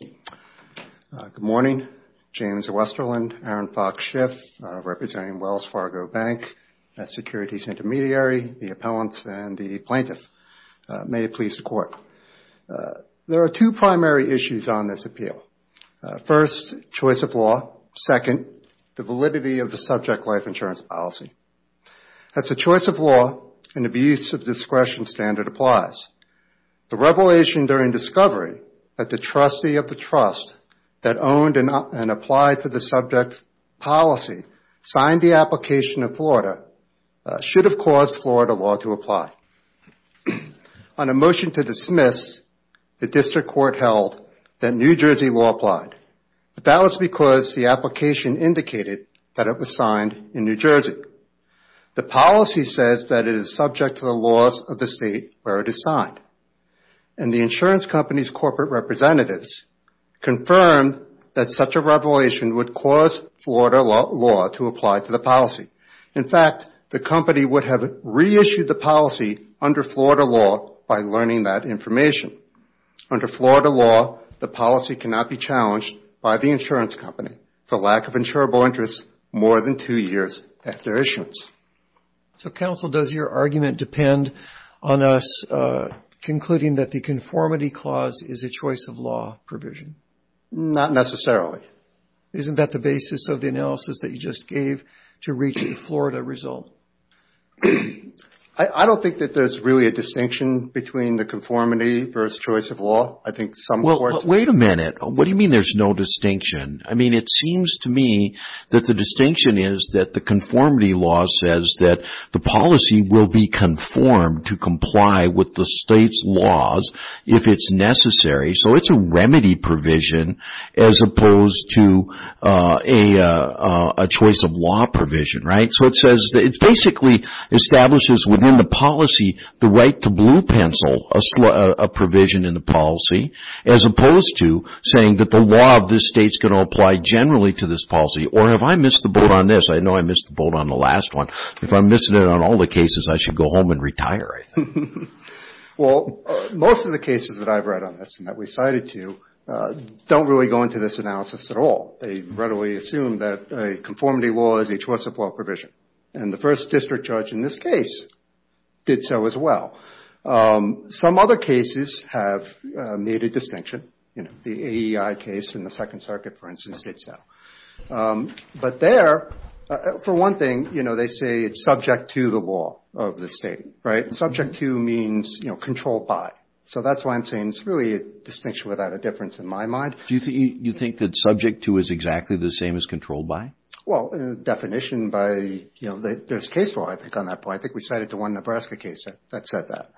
Good morning. James Westerlund, Aaron Fox Schiff, representing Wells Fargo Bank, Securities Intermediary, the appellants, and the plaintiff. May it please the Court. There are two primary issues on this appeal. First, choice of law. Second, the validity of the subject life insurance policy. As the choice of law and abuse of discretion standard applies, the revelation during discovery that the trustee of the trust that owned and applied for the subject policy signed the application in Florida should have caused Florida law to apply. On a motion to dismiss, the District Court held that New Jersey law applied, but that was because the application indicated that it was signed in New Jersey. The policy says that it is subject to the laws of the state where it is signed, and the insurance company's corporate representatives confirmed that such a revelation would cause Florida law to apply to the policy. In fact, the company would have reissued the policy under Florida law by learning that information. Under Florida law, the policy cannot be challenged by the insurance company for lack of insurable interest more than two years after issuance. So, counsel, does your argument depend on us concluding that the conformity clause is a choice of law provision? Not necessarily. Isn't that the basis of the analysis that you just gave to reach the Florida result? I don't think that there's really a distinction between the conformity versus choice of law. Wait a minute. What do you mean there's no distinction? I mean, it seems to me that the distinction is that the conformity law says that the policy will be conformed to comply with the state's laws if it's necessary, so it's a remedy provision as opposed to a choice of law provision, right? So, it says that it basically establishes within the policy the right to blue pencil a provision in the policy as opposed to saying that the law of this state's going to apply generally to this policy, or have I missed the boat on this? I know I missed the boat on the last one. If I'm missing it on all the cases, I should go home and retire. Well, most of the cases that I've read on this and that we cited to you don't really go into this analysis at all. They readily assume that a conformity law is a choice of law provision, and the first district judge in this case did so as well. Some other cases have made a distinction. The AEI case in the Second Circuit, for instance, did so. But there, for one thing, they say it's subject to the law of the state, right? Subject to means controlled by, so that's why I'm saying it's really a distinction without a difference in my mind. Do you think that subject to is exactly the same as controlled by? Well, definition by, you know, there's case law, I think, on that point. I think we cited the one Nebraska case that said that.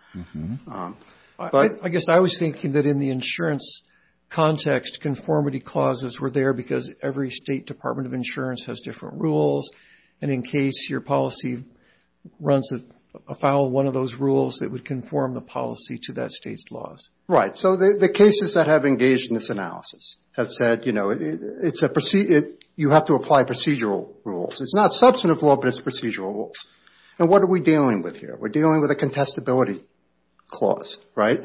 I guess I was thinking that in the insurance context, conformity clauses were there because every State Department of Insurance has different rules, and in case your policy runs afoul of one of those rules, it would conform the policy to that state's laws. Right, so the cases that have engaged in this analysis have said, you know, you have to apply procedural rules. It's not substantive law, but it's procedural rules. And what are we dealing with here? We're dealing with a contestability clause, right?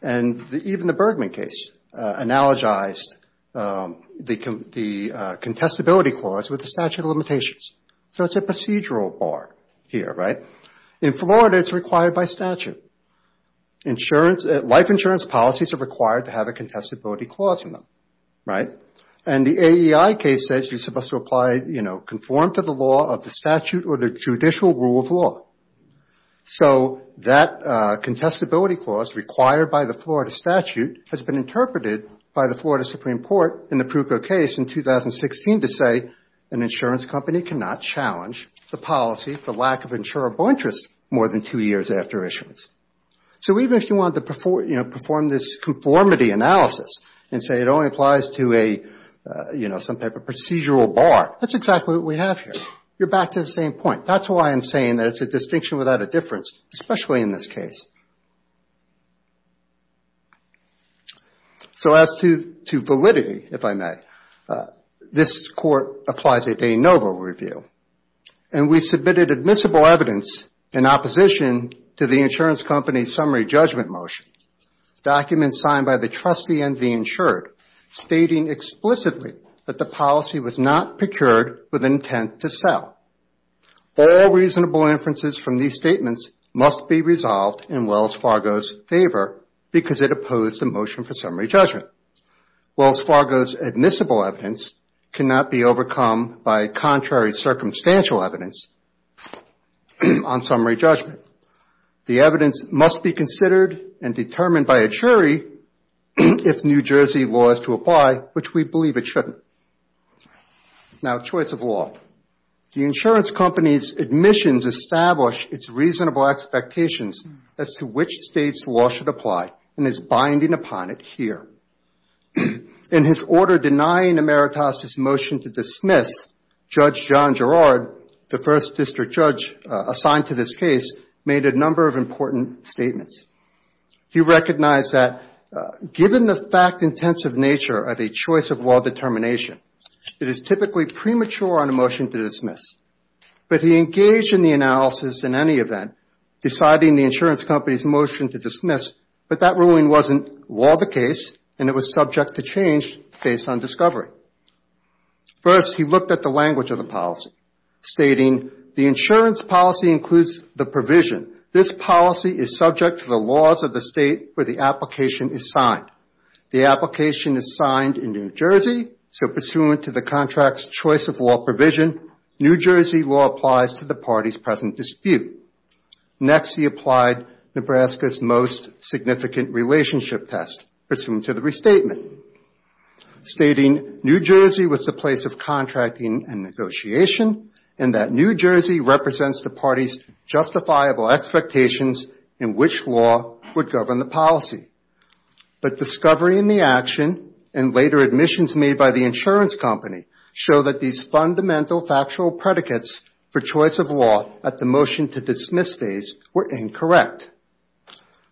And even the Bergman case analogized the contestability clause with the statute of limitations. So it's a procedural bar here, right? In Florida, it's required by statute. Life insurance policies are required to have a contestability clause in them, right? And the AEI case says you're supposed to apply, you know, conform to the law of the statute or the judicial rule of law. So that contestability clause required by the Florida statute has been interpreted by the Florida Supreme Court in the Pruco case in 2016 to say an insurance company cannot challenge the policy for lack of insurable interest more than two years after issuance. So even if you wanted to, you know, perform this conformity analysis and say it only applies to a, you know, some type of procedural bar, that's exactly what we have here. You're back to the same point. That's why I'm saying that it's a distinction without a difference, especially in this case. So as to validity, if I may, this court applies a de novo review. And we submitted admissible evidence in opposition to the insurance company's summary judgment motion, documents signed by the trustee and the insured, stating explicitly that the policy was not procured with intent to sell. All reasonable inferences from these statements must be resolved in Wells Fargo's favor because it opposed the motion for summary judgment. Wells Fargo's admissible evidence cannot be overcome by contrary circumstantial evidence on summary judgment. The evidence must be considered and determined by a jury if New Jersey law is to apply, which we believe it shouldn't. Now choice of law. The insurance company's admissions establish its reasonable expectations as to which state's law should apply and is binding upon it here. In his order denying Emeritus' motion to dismiss, Judge John Gerard, the first district judge assigned to this case, made a number of important statements. He recognized that given the fact-intensive nature of a choice of law determination, it is typically premature on a motion to dismiss. But he engaged in the analysis in any event, deciding the insurance company's motion to dismiss, but that ruling wasn't law of the case and it was subject to change based on discovery. First, he looked at the language of the policy, stating the insurance policy includes the provision. This policy is subject to the laws of the state where the application is signed. The application is signed in New Jersey, so pursuant to the contract's choice of law provision, New Jersey law applies to the party's present dispute. Next, he applied Nebraska's most significant relationship test, pursuant to the restatement, stating New Jersey was the place of contracting and negotiation and that New Jersey represents the party's justifiable expectations in which law would govern the policy. But discovery in the action and later admissions made by the insurance company show that these fundamental factual predicates for choice of law at the motion to dismiss phase were incorrect.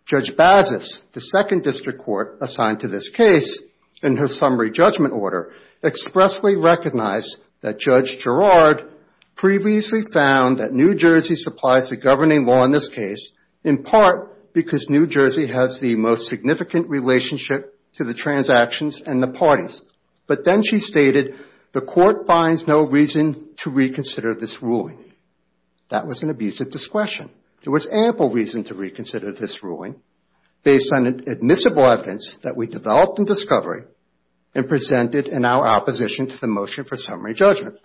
Judge Bazis, the second district court assigned to this case in her summary judgment order, expressly recognized that Judge Girard previously found that New Jersey supplies the governing law in this case, in part because New Jersey has the most significant relationship to the transactions and the parties. But then she stated the court finds no reason to reconsider this ruling. That was an abuse of discretion. There was ample reason to reconsider this ruling based on admissible evidence that we developed in discovery and presented in our opposition to the motion for summary judgment.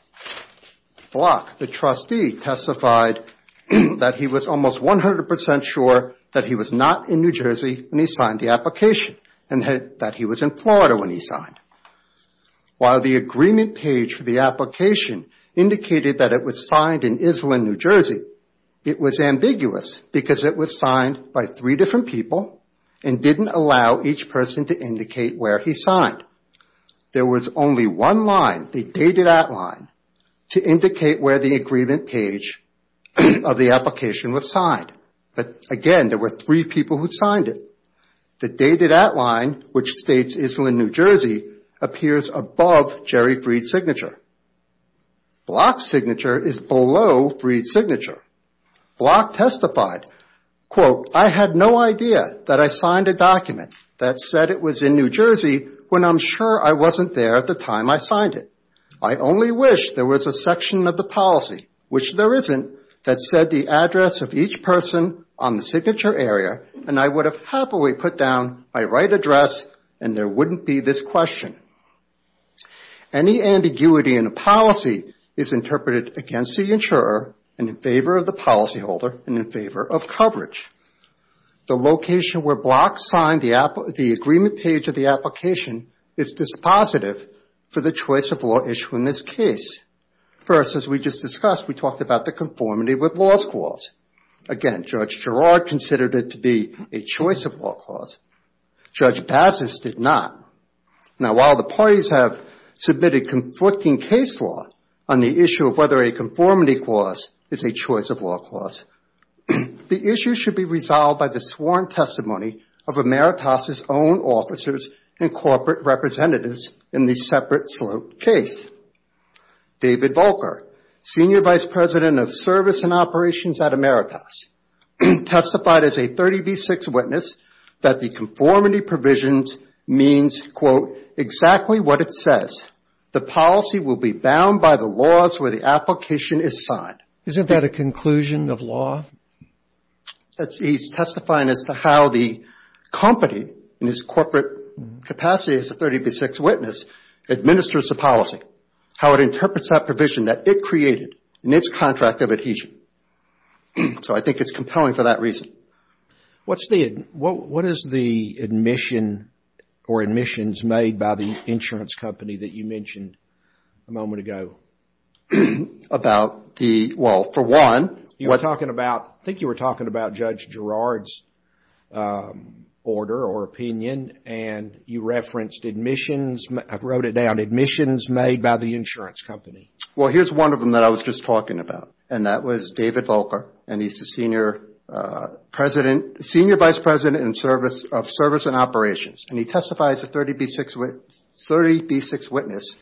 Block, the trustee, testified that he was almost 100 percent sure that he was not in New Jersey when he signed the application and that he was in Florida when he signed. While the agreement page for the application indicated that it was signed in Islin, New Jersey, it was ambiguous because it was signed by three different people and didn't allow each person to indicate where he signed. There was only one line, the dated outline, to indicate where the agreement page of the application was signed. But, again, there were three people who signed it. The dated outline, which states Islin, New Jersey, appears above Jerry Freed's signature. Block's signature is below Freed's signature. Block testified, quote, I had no idea that I signed a document that said it was in New Jersey when I'm sure I wasn't there at the time I signed it. I only wish there was a section of the policy, which there isn't, that said the address of each person on the signature area and I would have happily put down my right address and there wouldn't be this question. Any ambiguity in the policy is interpreted against the insurer and in favor of the policyholder and in favor of coverage. The location where Block signed the agreement page of the application is dispositive for the choice of law issue in this case. First, as we just discussed, we talked about the conformity with laws clause. Again, Judge Gerard considered it to be a choice of law clause. Judge Bassis did not. Now, while the parties have submitted conflicting case law on the issue of whether a conformity clause is a choice of law clause, the issue should be resolved by the sworn testimony of Emeritus' own officers and corporate representatives in the separate sloped case. David Volcker, Senior Vice President of Service and Operations at Emeritus, testified as a 30B6 witness that the conformity provisions means, quote, exactly what it says. The policy will be bound by the laws where the application is signed. Isn't that a conclusion of law? He's testifying as to how the company in its corporate capacity as a 30B6 witness administers the policy, how it interprets that provision that it created in its contract of adhesion. So I think it's compelling for that reason. What is the admission or admissions made by the insurance company that you mentioned a moment ago? Well, for one, I think you were talking about Judge Gerard's order or opinion, and you referenced admissions. I wrote it down. Admissions made by the insurance company. Well, here's one of them that I was just talking about, and that was David Volcker. He's the Senior Vice President of Service and Operations, and he testifies as a 30B6 witness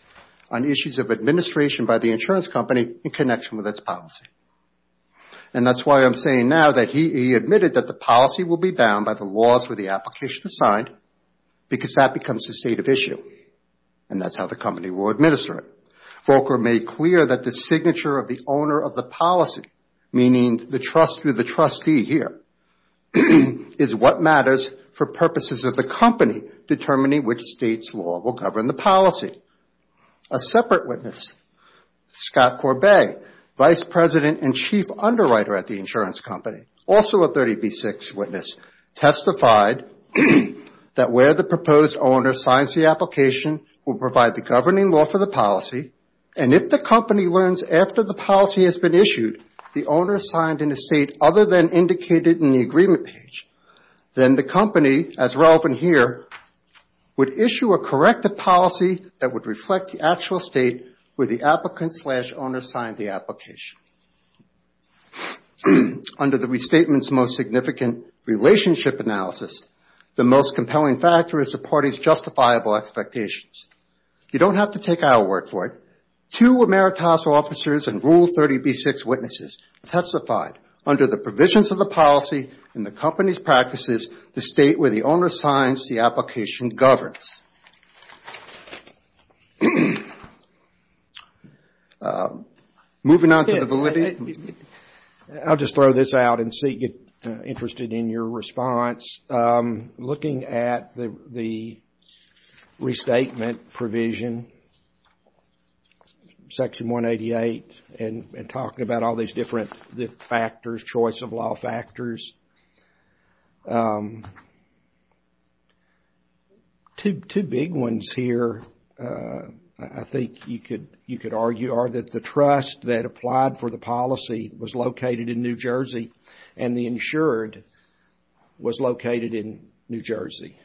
on issues of administration by the insurance company in connection with its policy. And that's why I'm saying now that he admitted that the policy will be bound by the laws where the application is signed, because that becomes the state of issue, and that's how the company will administer it. Volcker made clear that the signature of the owner of the policy, meaning the trust through the trustee here, is what matters for purposes of the company determining which state's law will govern the policy. A separate witness, Scott Corbett, Vice President and Chief Underwriter at the insurance company, also a 30B6 witness, testified that where the proposed owner signs the application will provide the governing law for the policy, and if the company learns after the policy has been issued the owner signed in a state other than indicated in the agreement page, then the company, as relevant here, would issue a corrective policy that would reflect the actual state where the applicant slash owner signed the application. Under the restatement's most significant relationship analysis, the most compelling factor is the party's justifiable expectations. You don't have to take our word for it. Two emeritus officers and Rule 30B6 witnesses testified, under the provisions of the policy and the company's practices, to state where the owner signs the application governs. Moving on to the validity. I'll just throw this out and see if you're interested in your response. Looking at the restatement provision, Section 188, and talking about all these different factors, choice of law factors, two big ones here, I think you could argue, are that the trust that applied for the policy was located in New Jersey and the insured was located in New Jersey.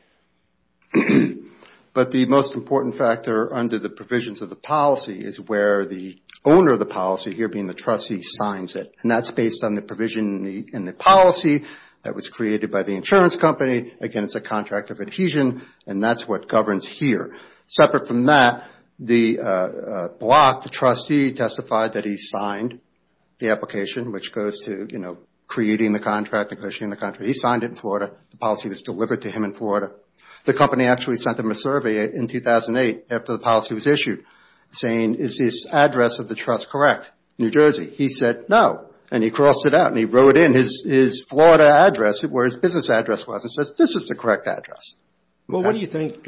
But the most important factor under the provisions of the policy is where the owner of the policy, here being the trustee, signs it. And that's based on the provision in the policy that was created by the insurance company against a contract of adhesion, and that's what governs here. Separate from that, the block, the trustee, testified that he signed the application, which goes to creating the contract, negotiating the contract. He signed it in Florida. The policy was delivered to him in Florida. The company actually sent him a survey in 2008, after the policy was issued, saying, is this address of the trust correct? New Jersey. He said, no. And he crossed it out and he wrote in his Florida address, where his business address was, and says, this is the correct address. Well, what do you think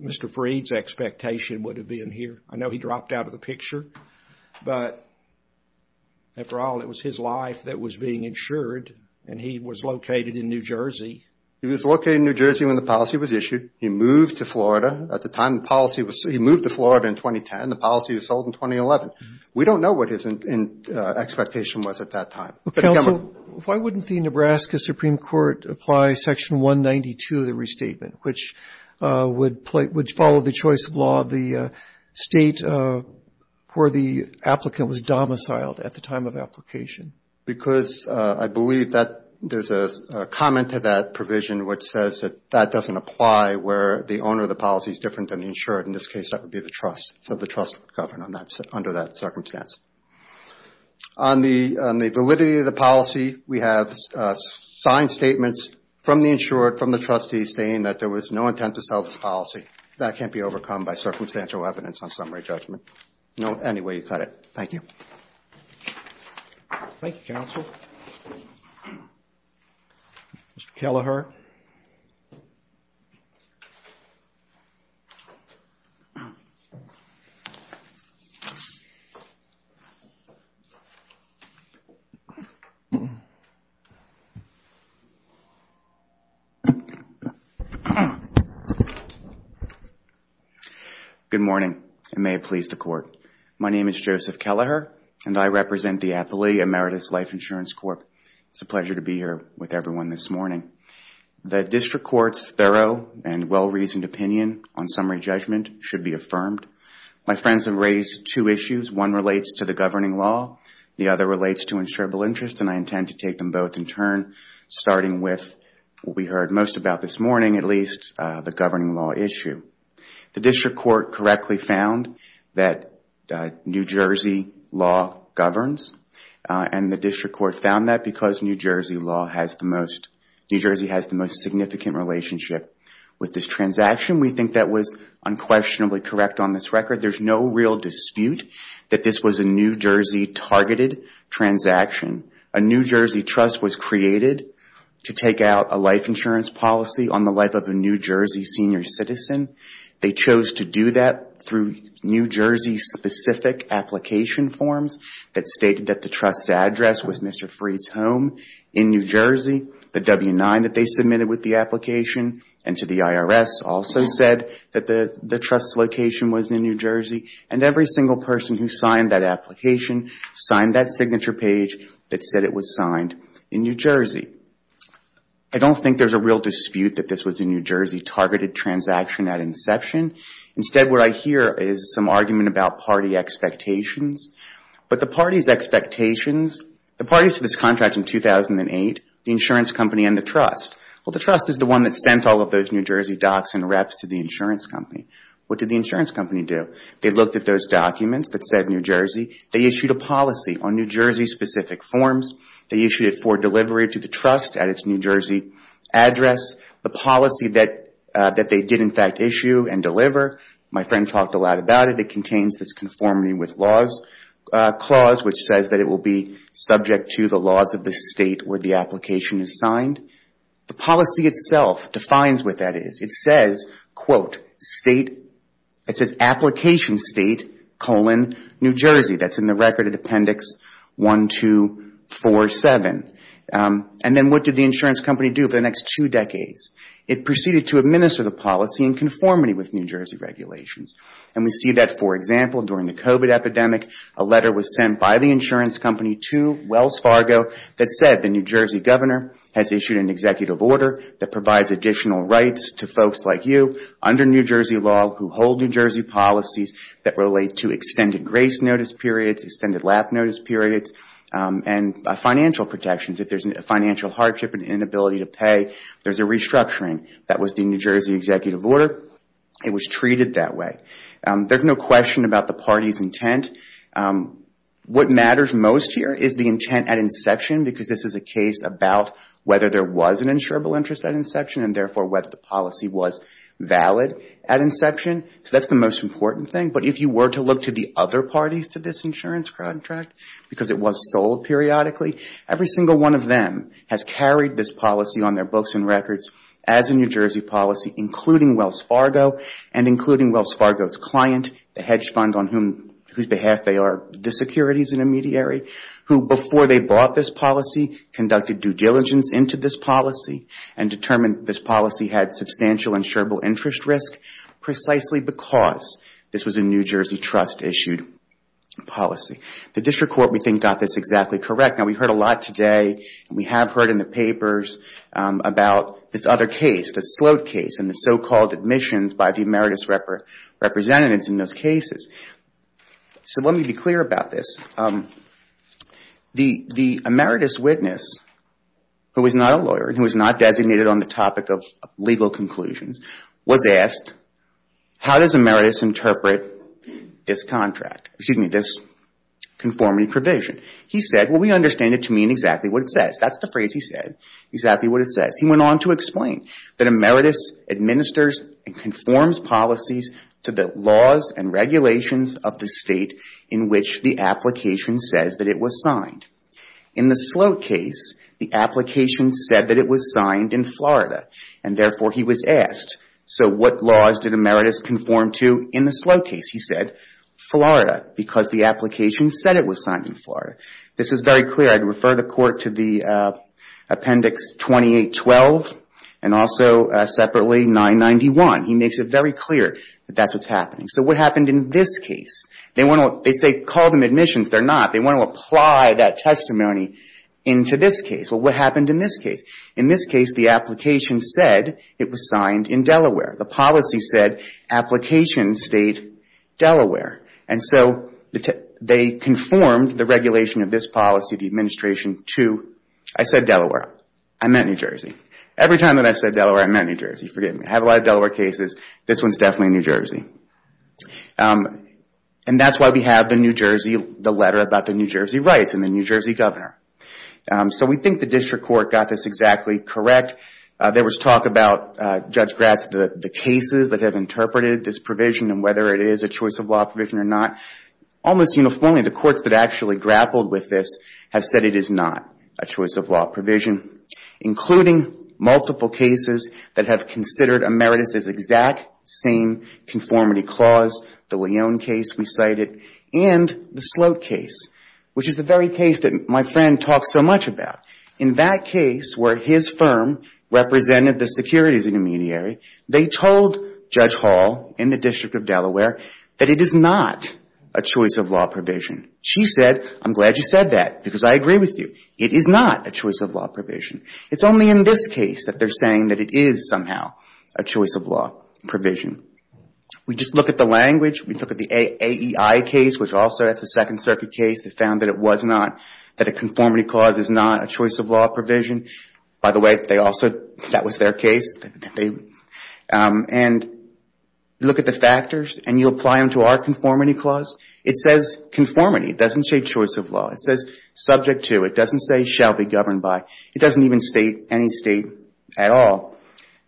Mr. Freed's expectation would have been here? I know he dropped out of the picture, but after all, it was his life that was being insured, and he was located in New Jersey. He was located in New Jersey when the policy was issued. He moved to Florida. At the time the policy was – he moved to Florida in 2010. The policy was sold in 2011. We don't know what his expectation was at that time. Counsel, why wouldn't the Nebraska Supreme Court apply Section 192 of the state where the applicant was domiciled at the time of application? Because I believe that there's a comment to that provision which says that that doesn't apply where the owner of the policy is different than the insured. In this case, that would be the trust. So the trust would govern under that circumstance. On the validity of the policy, we have signed statements from the insured, from the trustees, saying that there was no intent to sell this policy. That can't be overcome by circumstantial evidence on summary judgment. No any way you cut it. Thank you. Thank you, Counsel. Mr. Kelleher. Good morning. May it please the Court. My name is Joseph Kelleher, and I represent the Appley Emeritus Life Insurance Corp. It's a pleasure to be here with everyone this morning. The district court's thorough and well-reasoned opinion on summary judgment should be affirmed. My friends have raised two issues. One relates to the governing law. The other relates to insurable interest, and I intend to take them both in turn, starting with what we heard most about this morning, at least the governing law issue. The district court correctly found that New Jersey law governs, and the district court found that because New Jersey law has the most, New Jersey has the most significant relationship with this transaction. We think that was unquestionably correct on this record. There's no real dispute that this was a New Jersey targeted transaction. A New Jersey trust was created to take out a life insurance policy on the life of a New Jersey senior citizen. They chose to do that through New Jersey-specific application forms that stated that the trust's address was Mr. Freed's home in New Jersey. The W-9 that they submitted with the application and to the IRS also said that the trust's location was in New Jersey, and every single person who signed that application signed that signature page that said it was signed in New Jersey. I don't think there's a real dispute that this was a New Jersey targeted transaction at inception. Instead, what I hear is some argument about party expectations. But the party's expectations, the parties to this contract in 2008, the insurance company and the trust, well, the trust is the one that sent all of those New Jersey docs and reps to the insurance company. What did the insurance company do? They looked at those documents that said New Jersey. They issued a policy on New Jersey-specific forms. They issued it for delivery to the trust at its New Jersey address. The policy that they did, in fact, issue and deliver, my friend talked a lot about it. It contains this conformity with laws clause, which says that it will be subject to the laws of the state where the application is signed. The policy itself defines what that is. It says, quote, state, it says application state, colon, New Jersey. That's in the record at Appendix 1, 2, 4, 7. And then what did the insurance company do for the next two decades? It proceeded to administer the policy in conformity with New Jersey regulations. And we see that, for example, during the COVID epidemic, a letter was sent by the insurance company to Wells Fargo that said the New Jersey governor has issued an executive order that provides additional rights to folks like you under New Jersey law who hold New Jersey policies that relate to extended grace notice periods, extended lap notice periods, and financial protections. If there's a financial hardship, an inability to pay, there's a restructuring. That was the New Jersey executive order. It was treated that way. There's no question about the party's intent. What matters most here is the intent at inception, because this is a case about whether there was an insurable interest at inception, and therefore whether the policy was valid at inception. So that's the most important thing. But if you were to look to the other parties to this insurance contract, because it was sold periodically, every single one of them has carried this policy on their books and records as a New Jersey policy, including Wells Fargo and including Wells Fargo's client, the hedge fund on whose behalf they are the securities intermediary, who before they bought this policy conducted due diligence into this policy and determined this policy had substantial insurable interest risk, precisely because this was a New Jersey trust-issued policy. The district court, we think, got this exactly correct. Now, we heard a lot today, and we have heard in the papers, about this other case, the Sloat case and the so-called admissions by the emeritus representatives in those cases. So let me be clear about this. The emeritus witness, who is not a lawyer and who is not designated on the topic of legal conclusions, was asked, how does emeritus interpret this contract, excuse me, this conformity provision? He said, well, we understand it to mean exactly what it says. That's the phrase he said, exactly what it says. He went on to explain that emeritus administers and conforms policies to the laws and regulations of the state in which the application says that it was signed. In the Sloat case, the application said that it was signed in Florida, and therefore he was asked, so what laws did emeritus conform to in the Sloat case? He said, Florida, because the application said it was signed in Florida. This is very clear. I'd refer the court to the appendix 2812 and also separately 991. He makes it very clear that that's what's happening. So what happened in this case? They say call them admissions. They're not. They want to apply that testimony into this case. Well, what happened in this case? In this case, the application said it was signed in Delaware. The policy said application state Delaware. And so they conformed the regulation of this policy, the administration, to I said Delaware. I meant New Jersey. Every time that I said Delaware, I meant New Jersey. Forgive me. I have a lot of Delaware cases. This one's definitely New Jersey. And that's why we have the letter about the New Jersey rights and the New Jersey governor. So we think the district court got this exactly correct. There was talk about, Judge Gratz, the cases that have interpreted this provision and whether it is a choice of law provision or not. Almost uniformly, the courts that actually grappled with this have said it is not a choice of law provision, including multiple cases that have considered emeritus as exact same conformity clause, the Leon case we cited, and the Slote case, which is the very case that my friend talks so much about. In that case where his firm represented the securities intermediary, they told Judge Hall in the District of Delaware that it is not a choice of law provision. She said, I'm glad you said that because I agree with you. It is not a choice of law provision. It's only in this case that they're saying that it is somehow a choice of law provision. We just look at the language. We look at the AEI case, which also that's a Second Circuit case that found that it was not, that a conformity clause is not a choice of law provision. By the way, they also, that was their case. And look at the factors and you apply them to our conformity clause. It says conformity. It doesn't say choice of law. It says subject to. It doesn't say shall be governed by. It doesn't even state any state at all.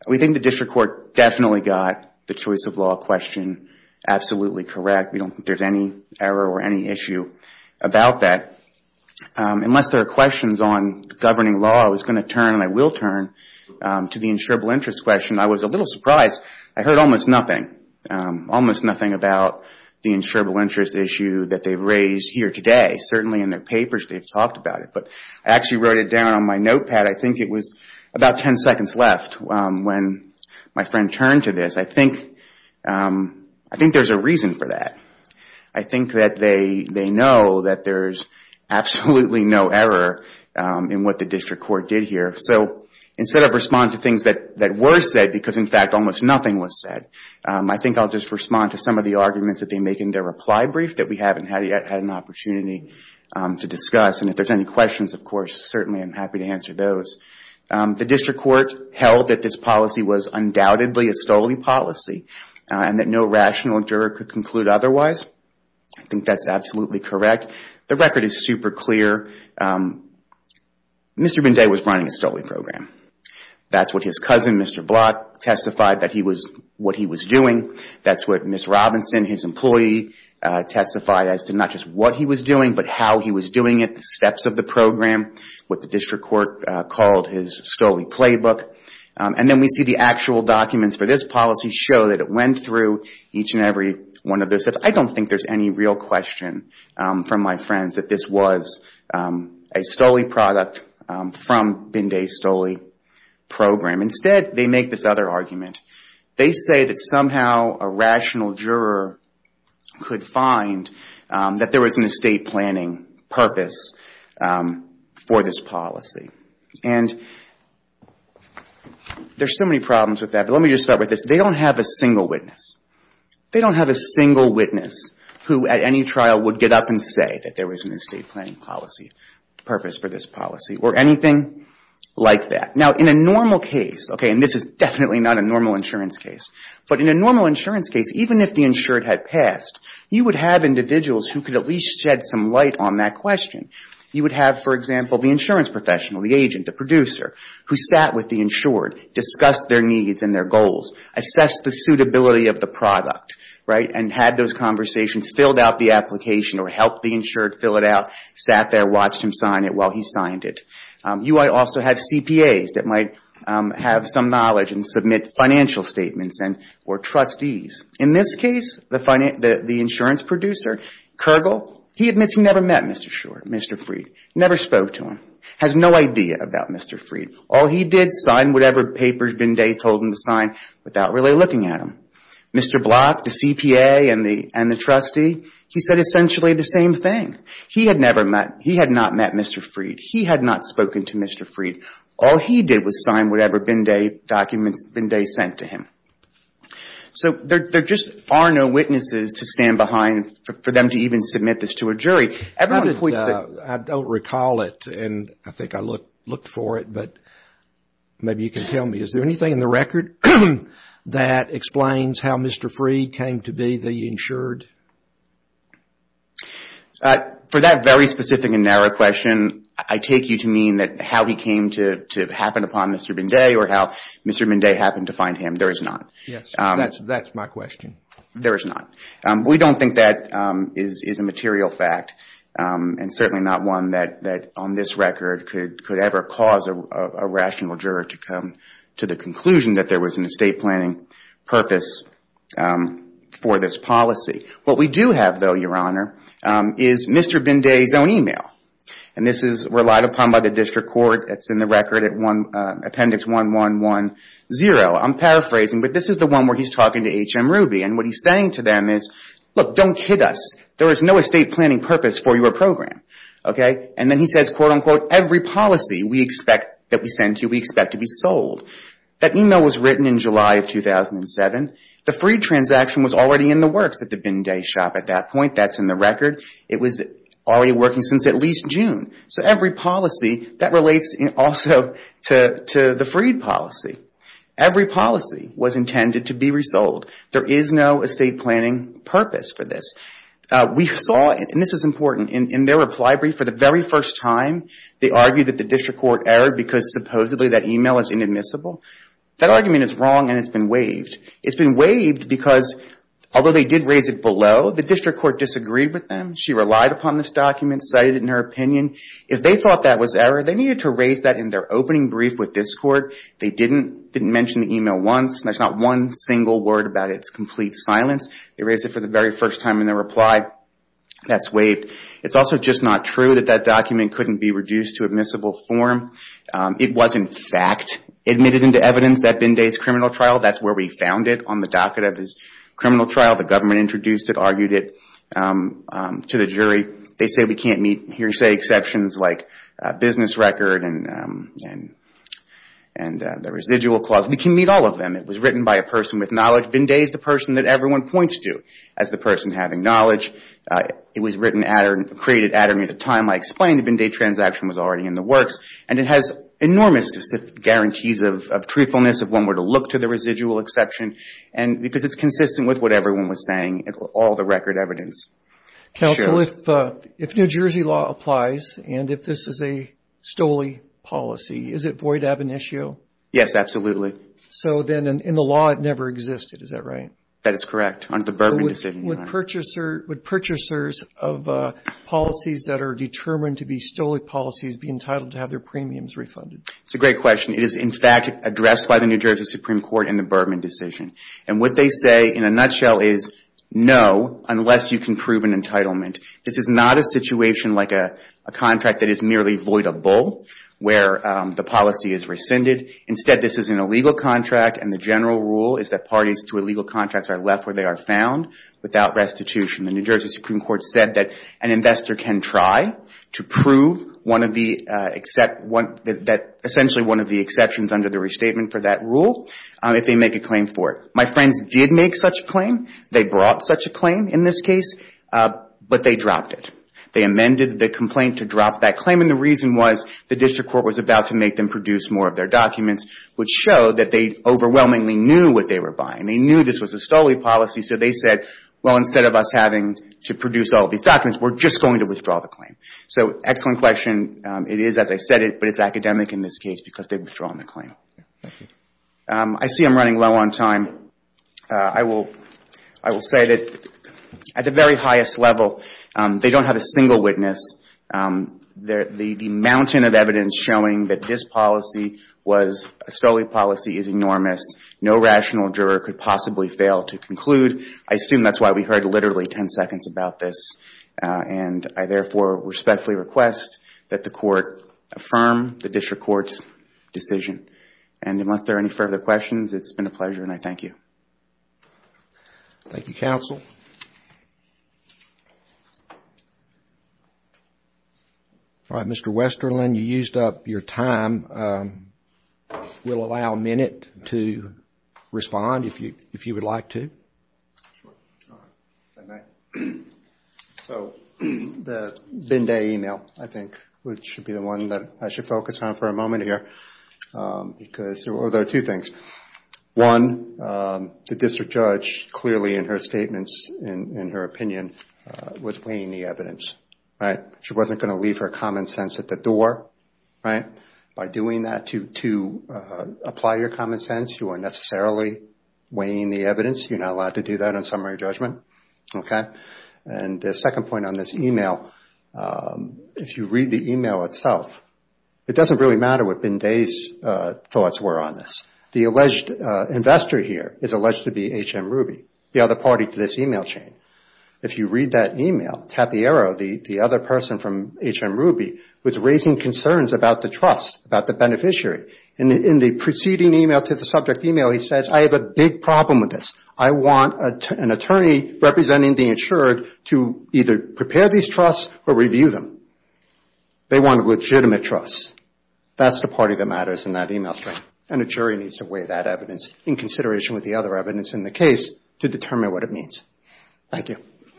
We think the district court definitely got the choice of law question absolutely correct. We don't think there's any error or any issue about that. Unless there are questions on governing law, I was going to turn, and I will turn, to the insurable interest question. I was a little surprised. I heard almost nothing, almost nothing about the insurable interest issue that they've raised here today. Certainly in their papers they've talked about it. But I actually wrote it down on my notepad. I think it was about ten seconds left when my friend turned to this. I think there's a reason for that. I think that they know that there's absolutely no error in what the district court did here. So instead of responding to things that were said because, in fact, almost nothing was said, I think I'll just respond to some of the arguments that they make in their reply brief that we haven't yet had an opportunity to discuss. And if there's any questions, of course, certainly I'm happy to answer those. The district court held that this policy was undoubtedly a stolen policy and that no rational juror could conclude otherwise. I think that's absolutely correct. The record is super clear. Mr. Binday was running a stolen program. That's what his cousin, Mr. Block, testified that he was doing. That's what Ms. Robinson, his employee, testified as to not just what he was doing but how he was doing it, the steps of the program, what the district court called his stolen playbook. And then we see the actual documents for this policy show that it went through each and every one of those steps. I don't think there's any real question from my friends that this was a stolen product from Binday's stolen program. Instead, they make this other argument. They say that somehow a rational juror could find that there was an estate planning purpose for this policy. And there's so many problems with that, but let me just start with this. They don't have a single witness. They don't have a single witness who at any trial would get up and say that there was an estate planning policy purpose for this policy or anything like that. Now, in a normal case, okay, and this is definitely not a normal insurance case, but in a normal insurance case, even if the insured had passed, you would have individuals who could at least shed some light on that question. You would have, for example, the insurance professional, the agent, the producer, who sat with the insured, discussed their needs and their goals, assessed the suitability of the product, right, and had those conversations, filled out the application or helped the insured fill it out, sat there, watched him sign it while he signed it. You might also have CPAs that might have some knowledge and submit financial statements or trustees. In this case, the insurance producer, Kergel, he admits he never met Mr. Freed, never spoke to him, has no idea about Mr. Freed. All he did, signed whatever papers Binday told him to sign without really looking at him. Mr. Block, the CPA and the trustee, he said essentially the same thing. He had never met, he had not met Mr. Freed. He had not spoken to Mr. Freed. All he did was sign whatever Binday documents Binday sent to him. So there just are no witnesses to stand behind for them to even submit this to a jury. I don't recall it and I think I looked for it, but maybe you can tell me. Is there anything in the record that explains how Mr. Freed came to be the insured? For that very specific and narrow question, I take you to mean that how he came to happen upon Mr. Binday or how Mr. Binday happened to find him. There is not. Yes, that's my question. There is not. We don't think that is a material fact and certainly not one that on this record could ever cause a rational juror to come to the conclusion that there was an estate planning purpose for this policy. What we do have, though, Your Honor, is Mr. Binday's own email. And this is relied upon by the district court. It's in the record at appendix 1110. I'm paraphrasing, but this is the one where he's talking to H.M. Ruby. And what he's saying to them is, look, don't kid us. There is no estate planning purpose for your program. And then he says, quote, unquote, every policy we expect that we send to you, we expect to be sold. That email was written in July of 2007. The free transaction was already in the works at the Binday shop at that point. That's in the record. It was already working since at least June. So every policy, that relates also to the free policy. Every policy was intended to be resold. There is no estate planning purpose for this. We saw, and this is important, in their reply brief for the very first time, they argued that the district court erred because supposedly that email is inadmissible. That argument is wrong and it's been waived. It's been waived because although they did raise it below, the district court disagreed with them. She relied upon this document, cited it in her opinion. If they thought that was error, they needed to raise that in their opening brief with this court. They didn't mention the email once. There's not one single word about its complete silence. They raised it for the very first time in their reply. That's waived. It's also just not true that that document couldn't be reduced to admissible form. It was, in fact, admitted into evidence at Binday's criminal trial. That's where we found it, on the docket of his criminal trial. The government introduced it, argued it to the jury. They say we can't meet hearsay exceptions like business record and the residual clause. We can meet all of them. It was written by a person with knowledge. Binday is the person that everyone points to as the person having knowledge. It was written at or created at or near the time I explained the Binday transaction was already in the works. And it has enormous guarantees of truthfulness if one were to look to the residual exception because it's consistent with what everyone was saying, all the record evidence. Counsel, if New Jersey law applies and if this is a STOLE policy, is it void ab initio? Yes, absolutely. So then in the law, it never existed. Is that right? That is correct, under the Berman decision. Would purchasers of policies that are determined to be STOLE policies be entitled to have their premiums refunded? It's a great question. It is, in fact, addressed by the New Jersey Supreme Court in the Berman decision. And what they say, in a nutshell, is no, unless you can prove an entitlement. This is not a situation like a contract that is merely void abol where the policy is rescinded. Instead, this is an illegal contract, and the general rule is that parties to illegal contracts are left where they are found without restitution. The New Jersey Supreme Court said that an investor can try to prove essentially one of the exceptions under the restatement for that rule if they make a claim for it. My friends did make such a claim. They brought such a claim in this case, but they dropped it. They amended the complaint to drop that claim, and the reason was the district court was about to make them produce more of their documents, which showed that they overwhelmingly knew what they were buying. They knew this was a STOLE policy, so they said, well, instead of us having to produce all these documents, we're just going to withdraw the claim. So, excellent question. It is as I said it, but it's academic in this case because they've withdrawn the claim. I see I'm running low on time. I will say that at the very highest level, they don't have a single witness. The mountain of evidence showing that this policy was a STOLE policy is enormous. No rational juror could possibly fail to conclude. I assume that's why we heard literally 10 seconds about this, and I therefore respectfully request that the court affirm the district court's decision. And unless there are any further questions, it's been a pleasure, and I thank you. Thank you, counsel. All right, Mr. Westerlin, you used up your time. We'll allow a minute to respond if you would like to. Sure. All right. If I may. So, the Binday email, I think, should be the one that I should focus on for a moment here. Because there are two things. One, the district judge clearly in her statements, in her opinion, was weighing the evidence. She wasn't going to leave her common sense at the door. By doing that to apply your common sense, you are necessarily weighing the evidence. You're not allowed to do that on summary judgment. And the second point on this email, if you read the email itself, it doesn't really matter what Binday's thoughts were on this. The alleged investor here is alleged to be H.M. Ruby, the other party to this email chain. If you read that email, Tapiero, the other person from H.M. Ruby, was raising concerns about the trust, about the beneficiary. In the preceding email to the subject email, he says, I have a big problem with this. I want an attorney representing the insured to either prepare these trusts or review them. They want legitimate trusts. That's the party that matters in that email. And a jury needs to weigh that evidence in consideration with the other evidence in the case to determine what it means. Thank you.